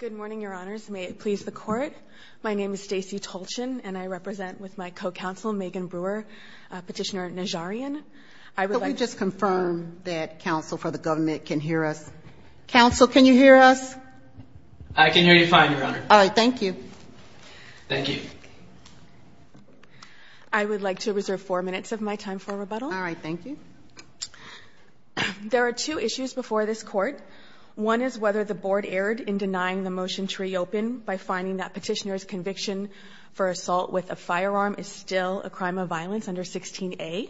Good morning, Your Honors. May it please the Court, my name is Stacey Tolchin, and I represent with my co-counsel, Megan Brewer, Petitioner Najaryan. I would like to confirm that counsel for the government can hear us. Counsel, can you hear us? I can hear you fine, Your Honor. All right, thank you. Thank you. I would like to reserve four minutes of my time for rebuttal. All right, thank you. There are two issues before this Court. One is whether the Board erred in denying the motion tree open by finding that Petitioner's conviction for assault with a firearm is still a crime of violence under 16a.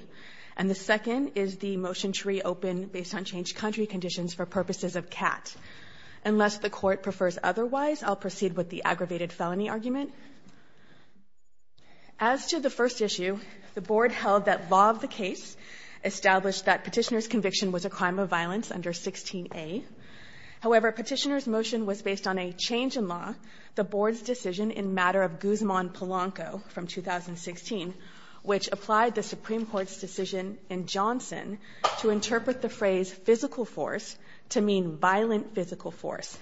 And the second is the motion tree open based on changed country conditions for purposes of CAT. Unless the Court prefers otherwise, I'll proceed with the aggravated felony argument. As to the first issue, the Board held that law of the case established that Petitioner's conviction was a crime of violence under 16a. However, Petitioner's motion was based on a change in law, the Board's decision in matter of Guzman Polanco from 2016, which applied the Supreme Court's decision in Johnson to interpret the phrase physical force to mean violent physical force.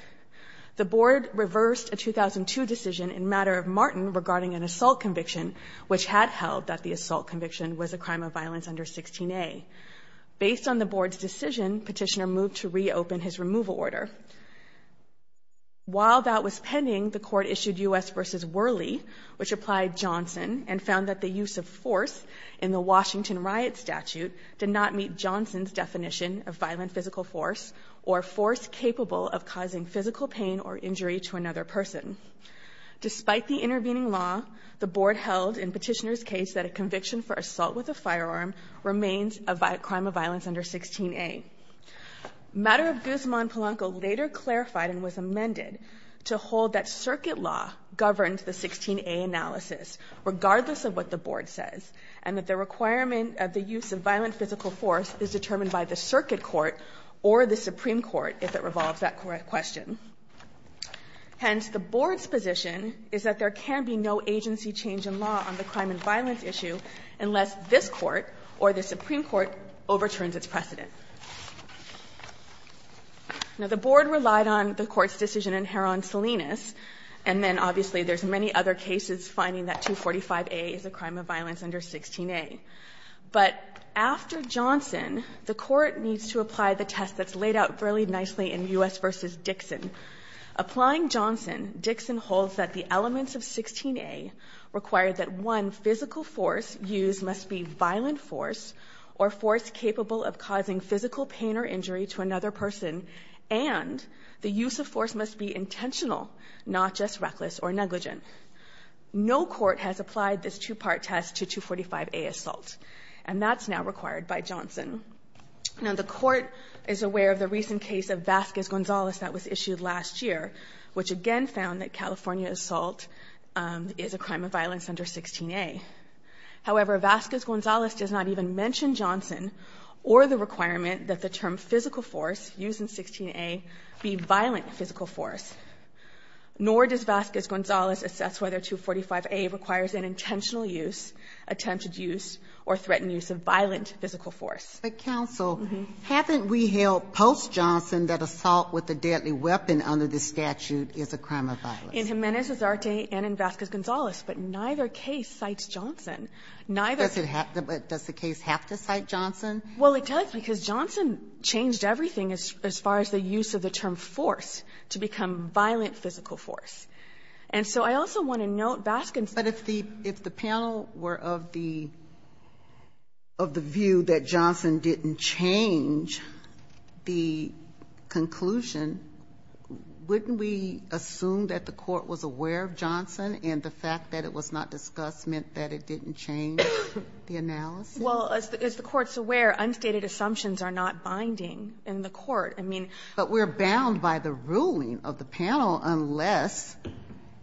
The Board reversed a 2002 decision in matter of Martin regarding an assault conviction, which had held that the assault conviction was a crime of violence under 16a. Based on the Board's decision, Petitioner moved to reopen his removal order. While that was pending, the Court issued U.S. v. Worley, which applied Johnson, and found that the use of force in the Washington riot statute did not meet Johnson's definition of violent physical force, or force capable of causing physical pain or injury to another person. Despite the intervening law, the Board held in Petitioner's case that a conviction for assault with a firearm remains a crime of violence under 16a. Matter of Guzman Polanco later clarified and was amended to hold that circuit law governed the 16a analysis regardless of what the Board says, and that the requirement of the use of violent physical force is determined by the circuit court or the Supreme Court, if it revolves that question. Hence, the Board's position is that there can be no agency change in law on the crime and violence issue unless this Court or the Supreme Court overturns its precedent. Now, the Board relied on the Court's decision in Heron-Salinas, and then obviously there's many other cases finding that 245a is a crime of violence under 16a. But after Johnson, the Court needs to apply the test that's laid out fairly nicely in U.S. v. Dixon. Applying Johnson, Dixon holds that the elements of 16a require that, one, physical force used must be violent force or force capable of causing physical pain or injury to another person, and the use of force must be intentional, not just reckless or negligent. No Court has done that. Now, the Court is aware of the recent case of Vazquez-Gonzalez that was issued last year, which again found that California assault is a crime of violence under 16a. However, Vazquez-Gonzalez does not even mention Johnson or the requirement that the term physical force used in 16a be violent physical force, nor does Vazquez-Gonzalez assess whether 245a requires an intentional use, attempted use, or threatened use of violent physical force. Ginsburg-McCabe. But, counsel, haven't we held post-Johnson that assault with a deadly weapon under this statute is a crime of violence? In Jimenez-Azarte and in Vazquez-Gonzalez, but neither case cites Johnson. Neither does it have to be. Does the case have to cite Johnson? Well, it does, because Johnson changed everything as far as the use of the term force to become violent physical force. And so I also want to note Vazquez-Gonzalez But if the panel were of the view that Johnson didn't change the conclusion, wouldn't we assume that the Court was aware of Johnson and the fact that it was not discussed meant that it didn't change the analysis? Well, as the Court's aware, unstated assumptions are not binding in the Court. I mean we're bound by the ruling of the panel unless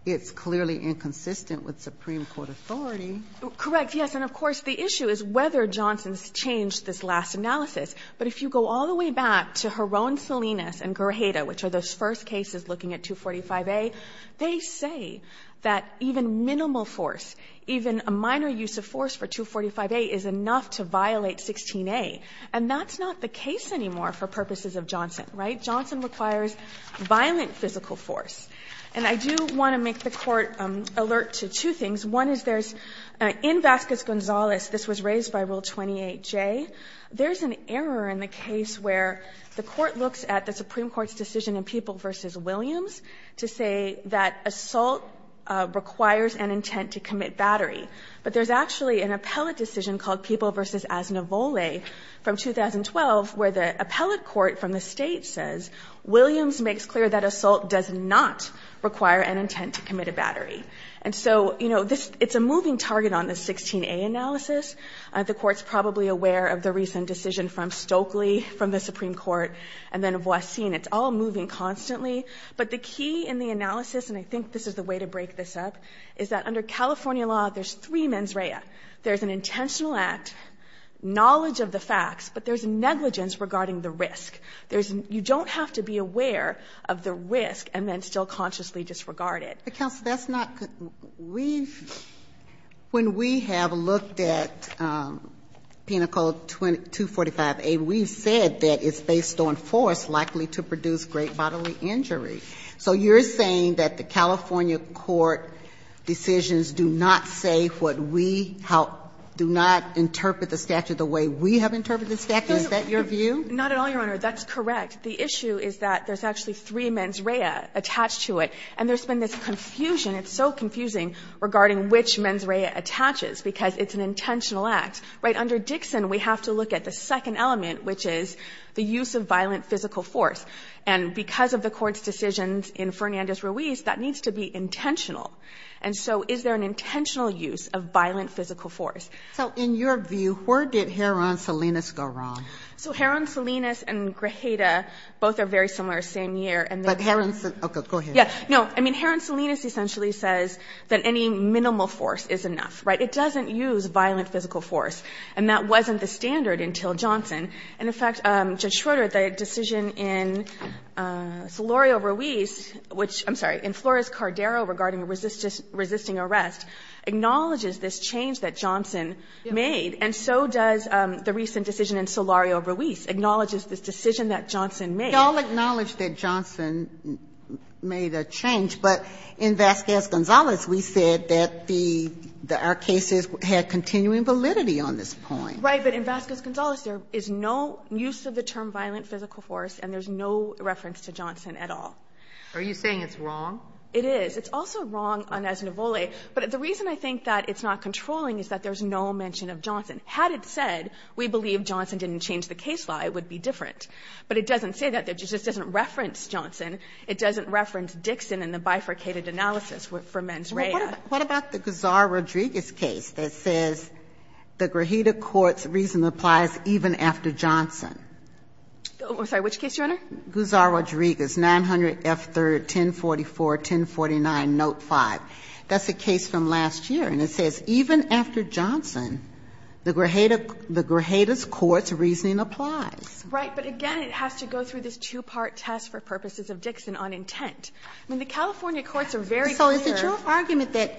it's clearly inconsistent with Supreme Court authority. Correct. Yes. And of course, the issue is whether Johnson's changed this last analysis. But if you go all the way back to Jaron-Solinas and Guerrera, which are those first cases looking at 245a, they say that even minimal force, even a minor use of force for 245a is enough to violate 16a. And that's not the case anymore for purposes of Johnson, right? Johnson requires violent physical force. And I do want to make the Court alert to two things. One is there's, in Vazquez-Gonzalez, this was raised by Rule 28J, there's an error in the case where the Court looks at the Supreme Court's decision in People v. Williams to say that assault requires an intent to commit battery. But there's actually an appellate decision called People v. Asnivole from 2012, where the appellate court from the State says Williams makes clear that assault does not require an intent to commit a battery. And so, you know, this — it's a moving target on the 16a analysis. The Court's probably aware of the recent decision from Stokely from the Supreme Court and then Voisin. It's all moving constantly. But the key in the analysis, and I think this is the way to break this up, is that under California law, there's three mens rea. There's an intentional act, knowledge of the facts, but there's negligence regarding the risk. There's — you don't have to be aware of the risk and then still consciously disregard it. But, counsel, that's not — we've — when we have looked at Penal Code 245a, we've said that it's based on force likely to produce great bodily injury. So you're saying that the California court decisions do not say what we — do not interpret the statute the way we have interpreted the statute? Is that your view? Not at all, Your Honor. That's correct. The issue is that there's actually three mens rea attached to it, and there's been this confusion. It's so confusing regarding which mens rea attaches, because it's an intentional act. Right under Dixon, we have to look at the second element, which is the use of violent physical force. And because of the Court's decisions in Fernandez-Ruiz, that needs to be intentional. And so is there an intentional use of violent physical force? So in your view, where did Herron Salinas go wrong? So Herron Salinas and Grajeda, both are very similar, same year. But Herron — okay, go ahead. Yeah. No. I mean, Herron Salinas essentially says that any minimal force is enough. Right? It doesn't use violent physical force. And that wasn't the standard until Johnson. And, in fact, Judge Schroeder, the decision in Solorio-Ruiz, which — I'm sorry, in Flores-Cardero regarding resisting arrest, acknowledges this change that Solorio-Ruiz acknowledges this decision that Johnson made. We all acknowledge that Johnson made a change, but in Vasquez-Gonzalez, we said that the — that our cases had continuing validity on this point. Right. But in Vasquez-Gonzalez, there is no use of the term violent physical force, and there's no reference to Johnson at all. Are you saying it's wrong? It is. It's also wrong on Esnivole. But the reason I think that it's not controlling is that there's no mention of Johnson. Had it said, we believe Johnson didn't change the case law, it would be different. But it doesn't say that. It just doesn't reference Johnson. It doesn't reference Dixon in the bifurcated analysis for mens rea. What about the Guzar-Rodriguez case that says the grajita court's reason applies even after Johnson? I'm sorry. Which case, Your Honor? Guzar-Rodriguez, 900 F. 3rd, 1044, 1049, note 5. That's a case from last year. And it says even after Johnson, the grajita's court's reasoning applies. Right. But again, it has to go through this two-part test for purposes of Dixon on intent. I mean, the California courts are very clear. So is it your argument that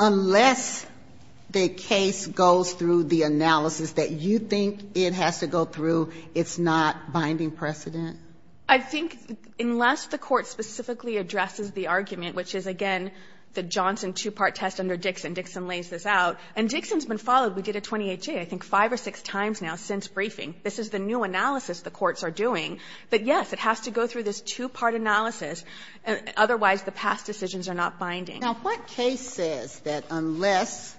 unless the case goes through the analysis that you think it has to go through, it's not binding precedent? I think unless the court specifically addresses the argument, which is, again, the Johnson two-part test under Dixon, Dixon lays this out, and Dixon's been followed. We did a 28-J, I think, five or six times now since briefing. This is the new analysis the courts are doing. But, yes, it has to go through this two-part analysis. Otherwise, the past decisions are not binding. Now, what case says that unless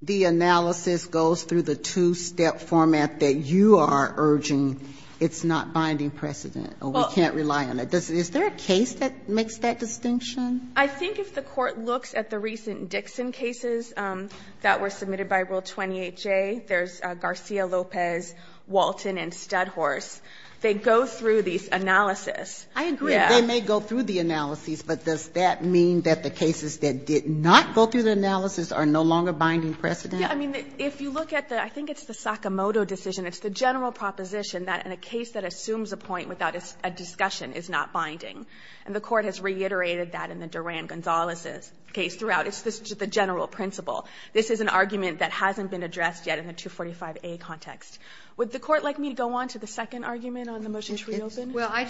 the analysis goes through the two-step format that you are urging, it's not binding precedent, or we can't rely on it? Is there a case that makes that distinction? I think if the Court looks at the recent Dixon cases that were submitted by Rule 28J, there's Garcia-Lopez, Walton, and Studhorse. They go through these analyses. I agree. They may go through the analyses, but does that mean that the cases that did not go through the analysis are no longer binding precedent? Yes. I mean, if you look at the – I think it's the Sakamoto decision. It's the general proposition that in a case that assumes a point without a discussion is not binding. And the Court has reiterated that in the Duran-Gonzalez case throughout. It's the general principle. This is an argument that hasn't been addressed yet in the 245a context. Would the Court like me to go on to the second argument on the motion to reopen? Sotomayor,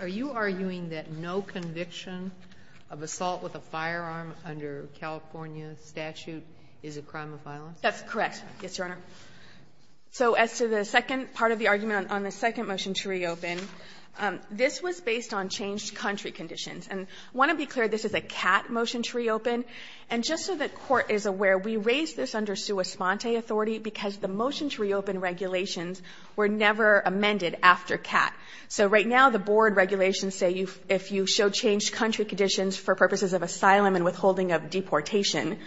are you arguing that no conviction of assault with a firearm under California's statute is a crime of violence? That's correct, yes, Your Honor. So as to the second part of the argument on the second motion to reopen, this was based on changed country conditions. And I want to be clear, this is a CAT motion to reopen. And just so the Court is aware, we raised this under sua sponte authority because the motion to reopen regulations were never amended after CAT. So right now the board regulations say if you show changed country conditions for purposes of asylum and withholding of deportation,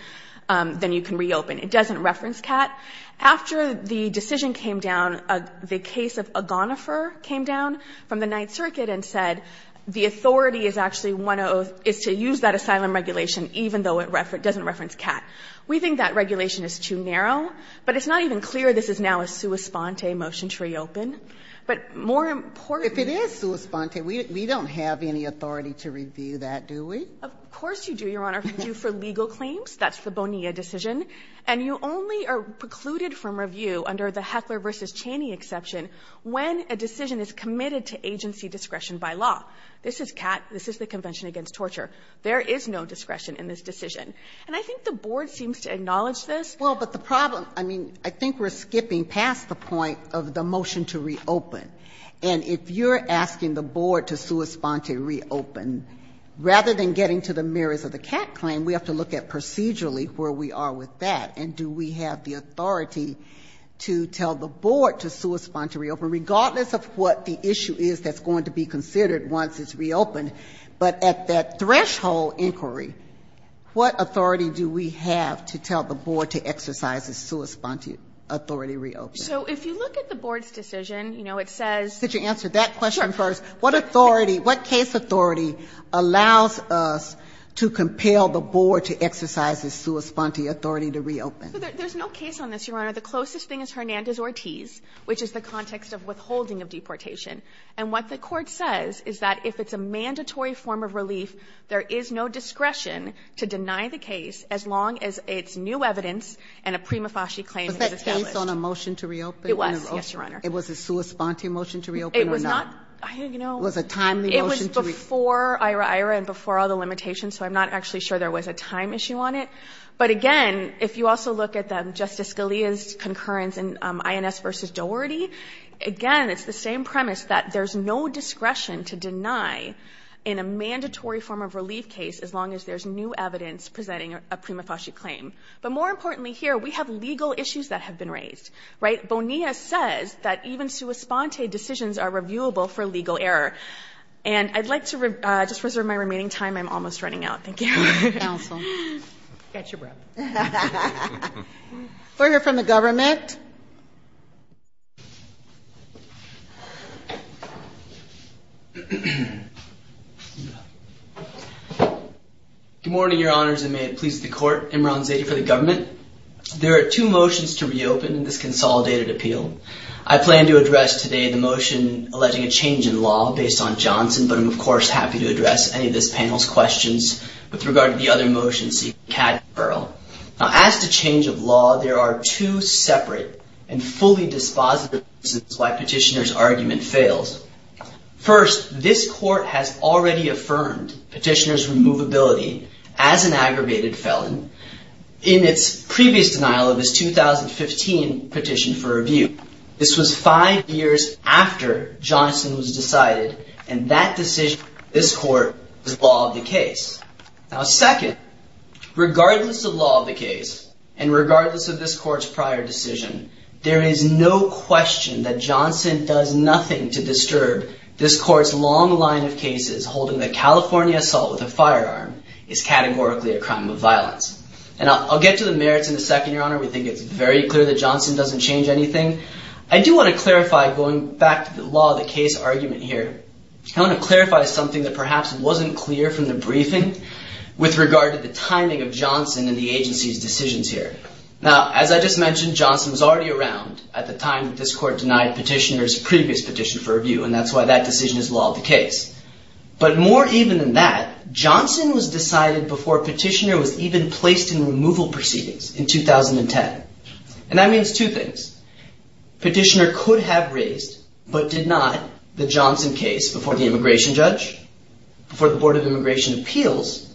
then you can reopen. It doesn't reference CAT. After the decision came down, the case of Agonifer came down from the Ninth Circuit and said the authority is actually one of the other, is to use that asylum regulation even though it doesn't reference CAT. We think that regulation is too narrow, but it's not even clear this is now a sua sponte motion to reopen. But more importantly we don't have any authority to review that, do we? Of course you do, Your Honor. If you do for legal claims, that's the Bonilla decision. And you only are precluded from review under the Heckler v. Cheney exception when a decision is committed to agency discretion by law. This is CAT, this is the Convention Against Torture. There is no discretion in this decision. And I think the board seems to acknowledge this. Well, but the problem, I mean, I think we're skipping past the point of the motion to reopen. And if you're asking the board to sua sponte reopen, rather than getting to the merits of the CAT claim, we have to look at procedurally where we are with that. And do we have the authority to tell the board to sua sponte reopen, regardless of what the issue is that's going to be considered once it's reopened? But at that threshold inquiry, what authority do we have to tell the board to exercise a sua sponte authority to reopen? So if you look at the board's decision, you know, it says Could you answer that question first? What authority, what case authority allows us to compel the board to exercise a sua sponte authority to reopen? There's no case on this, Your Honor. The closest thing is Hernandez-Ortiz, which is the context of withholding of deportation. And what the Court says is that if it's a mandatory form of relief, there is no discretion to deny the case as long as it's new evidence and a prima facie claim is established. Was that case on a motion to reopen? It was, yes, Your Honor. It was a sua sponte motion to reopen or not? I don't know. Was a timely motion to reopen? It was before IHRA-IHRA and before all the limitations, so I'm not actually sure there was a time issue on it. But again, if you also look at Justice Scalia's concurrence in INS versus Doherty, again, it's the same premise that there's no discretion to deny in a mandatory form of relief case as long as there's new evidence presenting a prima facie claim. But more importantly here, we have legal issues that have been raised, right? NEA says that even sua sponte decisions are reviewable for legal error. And I'd like to just reserve my remaining time. I'm almost running out. Thank you. Counsel. Catch your breath. We'll hear from the government. Good morning, Your Honors, and may it please the Court. Imran Zaidi for the government. There are two motions to reopen in this consolidated appeal. I plan to address today the motion alleging a change in law based on Johnson, but I'm, of course, happy to address any of this panel's questions with regard to the other motions seeking categorical referral. Now, as to change of law, there are two separate and fully dispositive reasons why Petitioner's argument fails. First, this Court has already affirmed Petitioner's removability as an aggravated felon in its previous denial of his 2015 petition for review. This was five years after Johnson was decided, and that decision, this Court, was law of the case. Now, second, regardless of law of the case and regardless of this Court's prior decision, there is no question that Johnson does nothing to disturb this Court's long line of cases holding that California assault with a firearm is categorically a crime of violence. And I'll get to the merits in a second, Your Honor. We think it's very clear that Johnson doesn't change anything. I do want to clarify, going back to the law of the case argument here, I want to clarify something that perhaps wasn't clear from the briefing with regard to the timing of Johnson and the agency's decisions here. Now, as I just mentioned, Johnson was already around at the time that this Court denied Petitioner's previous petition for review, and that's why that decision is law of the case. But more even than that, Johnson was decided before Petitioner was even placed in removal proceedings in 2010. And that means two things. Petitioner could have raised, but did not, the Johnson case before the immigration judge, before the Board of Immigration Appeals,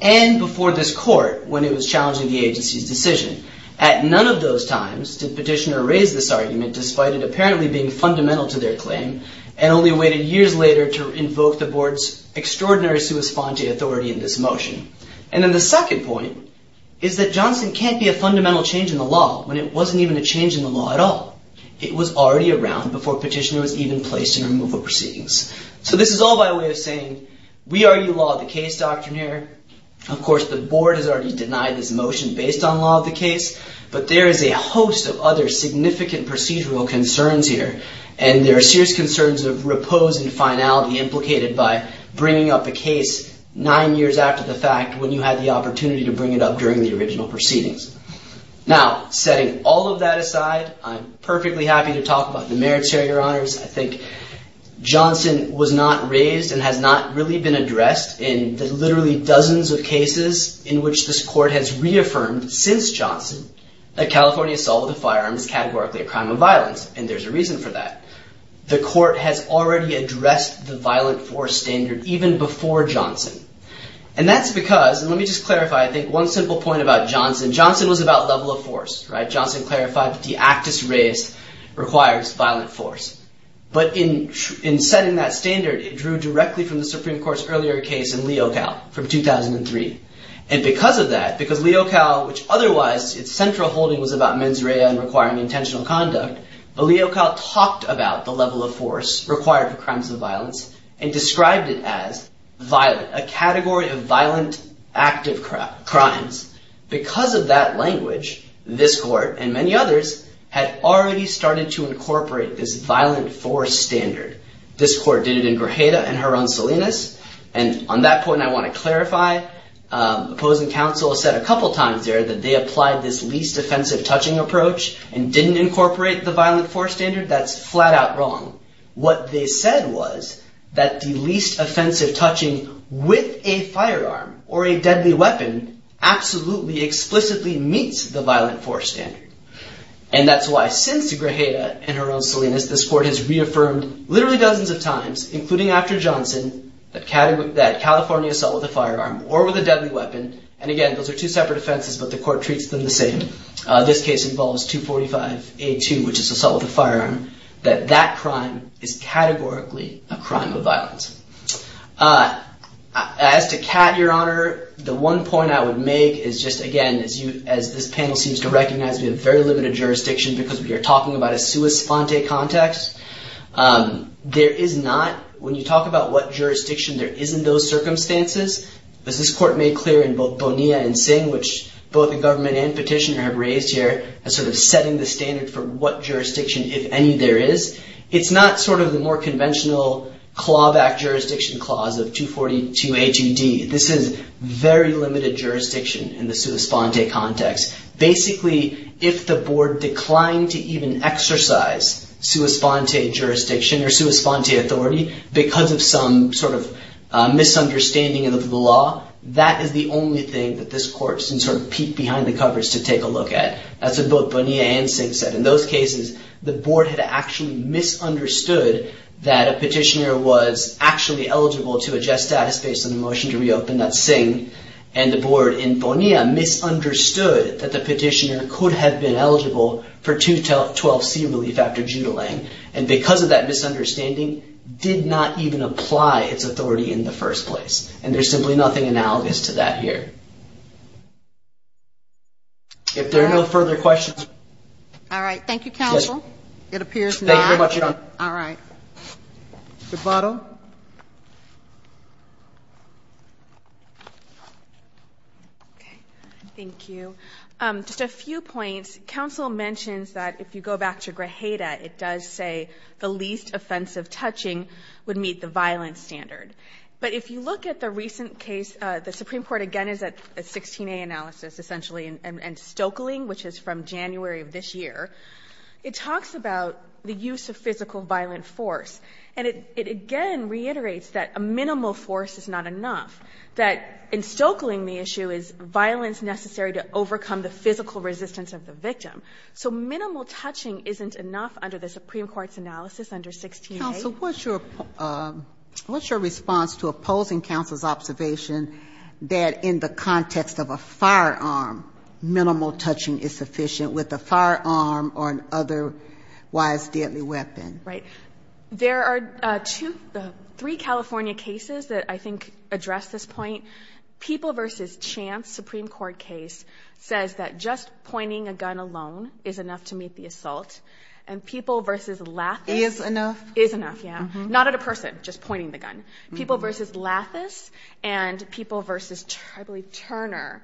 and before this Court when it was challenging the agency's decision. At none of those times did Petitioner raise this argument, despite it apparently being fundamental to their claim, and only waited years later to invoke the Board's extraordinary sua sponte authority in this motion. And then the second point is that Johnson can't be a fundamental change in the law when it wasn't even a change in the law at all. It was already around before Petitioner was even placed in removal proceedings. So this is all by way of saying, we already law of the case doctrine here. Of course, the Board has already denied this motion based on law of the case, but there is a host of other significant procedural concerns here, and there are serious concerns of repose and finality implicated by bringing up a case nine years after the fact when you had the opportunity to bring it up during the original proceedings. Now, setting all of that aside, I'm perfectly happy to talk about the merits here, Your Honors. I think Johnson was not raised and has not really been addressed in the literally dozens of cases in which this Court has reaffirmed is categorically a crime of violence. And there's a reason for that. The Court has already addressed the violent force standard even before Johnson. And that's because, and let me just clarify, I think one simple point about Johnson. Johnson was about level of force, right? Johnson clarified that the actus reus requires violent force. But in setting that standard, it drew directly from the Supreme Court's earlier case in Leocal from 2003. And because of that, because Leocal, which otherwise its central holding was about mens rea and requiring intentional conduct, Leocal talked about the level of force required for crimes of violence and described it as violent, a category of violent active crimes. Because of that language, this Court and many others had already started to incorporate this violent force standard. This Court did it in Grajeda and her own Salinas. And on that point, I want to clarify opposing counsel said a couple times there that they applied this least offensive touching approach and didn't incorporate the violent force standard. That's flat out wrong. What they said was that the least offensive touching with a firearm or a deadly weapon absolutely explicitly meets the violent force standard. And that's why since Grajeda and her own Salinas, this Court has reaffirmed literally dozens of times, including after Johnson, that California assault with a firearm or with a deadly weapon. And again, those are two separate offenses, but the Court treats them the same. This case involves 245A2, which is assault with a firearm, that that crime is categorically a crime of violence. As to Kat, Your Honor, the one point I would make is just again, as this panel seems to recognize we have very limited jurisdiction because we are talking about a sua sponte context. There is not, when you talk about what jurisdiction, there isn't those circumstances. As this Court made clear in both Bonilla and Singh, which both the government and petitioner have raised here, sort of setting the standard for what jurisdiction, if any, there is. It's not sort of the more conventional clawback jurisdiction clause of 242A2D. This is very limited jurisdiction in the sua sponte context. Basically, if the Board declined to even exercise sua sponte jurisdiction or sua sponte authority because of some sort of misunderstanding of the law, that is the only thing that this Court can sort of peek behind the covers to take a look at. That's what both Bonilla and Singh said. In those cases, the Board had actually misunderstood that a petitioner was actually eligible to adjust status based on the motion to reopen. That's Singh and the Board in Bonilla misunderstood that the petitioner could have been eligible for 212C relief after judo-laying. And because of that misunderstanding, did not even apply its authority in the first place. And there's simply nothing analogous to that here. If there are no further questions. All right. Thank you, Counsel. It appears not. Thank you very much, Your Honor. All right. Good bottle. Okay. Thank you. Just a few points. Counsel mentions that if you go back to Grijeda, it does say the least offensive touching would meet the violence standard. But if you look at the recent case, the Supreme Court again is at 16a analysis, essentially, and Stoeckling, which is from January of this year, it talks about the use of physical violent force. And it again reiterates that a minimal force is not enough, that in Stoeckling the issue is violence necessary to overcome the physical resistance of the victim. So minimal touching isn't enough under the Supreme Court's analysis under 16a. So what's your response to opposing counsel's observation that in the context of a firearm, minimal touching is sufficient with a firearm or an otherwise deadly weapon? Right. There are three California cases that I think address this point. People v. Chance, Supreme Court case, says that just pointing a gun alone is enough to meet the assault. And People v. Lathis. Is enough? Is enough, yeah. Not at a person, just pointing the gun. People v. Lathis and People v. Turner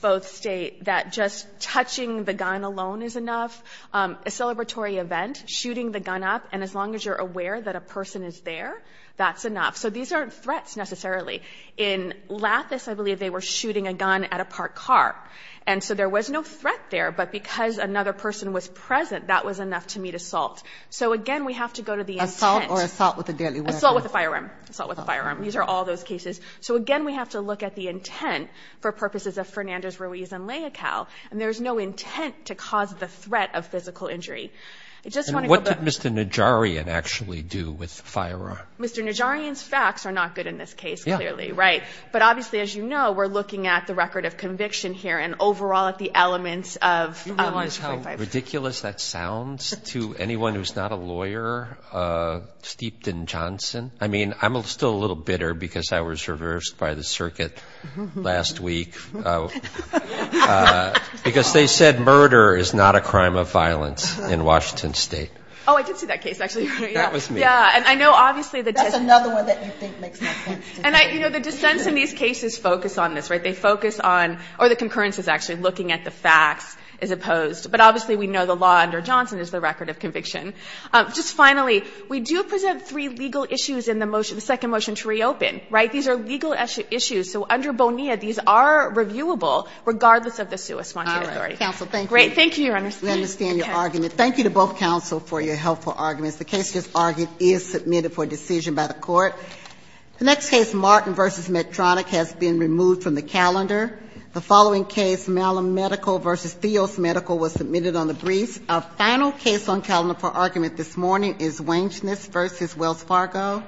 both state that just touching the gun alone is enough. A celebratory event, shooting the gun up, and as long as you're aware that a person is there, that's enough. So these aren't threats necessarily. In Lathis, I believe they were shooting a gun at a parked car. And so there was no threat there. But because another person was present, that was enough to meet assault. So again, we have to go to the intent. Assault or assault with a deadly weapon? Assault with a firearm. Assault with a firearm. These are all those cases. So again, we have to look at the intent for purposes of Fernandez, Ruiz, and Leocal. And there's no intent to cause the threat of physical injury. And what did Mr. Najarian actually do with the firearm? Mr. Najarian's facts are not good in this case, clearly, right? But obviously, as you know, we're looking at the record of conviction here. And overall, at the elements of- Do you realize how ridiculous that sounds to anyone who's not a lawyer? Steepton Johnson. I mean, I'm still a little bitter because I was reversed by the circuit last week. Because they said murder is not a crime of violence in Washington State. Oh, I did see that case, actually. That was me. Yeah. And I know, obviously, the- That's another one that you think makes no sense to me. And the dissents in these cases focus on this, right? They focus on, or the concurrence is actually looking at the facts. It's opposed. But obviously, we know the law under Johnson is the record of conviction. Just finally, we do present three legal issues in the motion, the second motion to reopen, right? These are legal issues. So under Bonilla, these are reviewable, regardless of the sui sponte authority. All right. Counsel, thank you. Great. Thank you, Your Honor. We understand your argument. Thank you to both counsel for your helpful arguments. The case just argued is submitted for decision by the Court. The next case, Martin v. Medtronic, has been removed from the calendar. The following case, Malum Medical v. Theos Medical, was submitted on the briefs. Our final case on calendar for argument this morning is Wangeness v. Wells Fargo.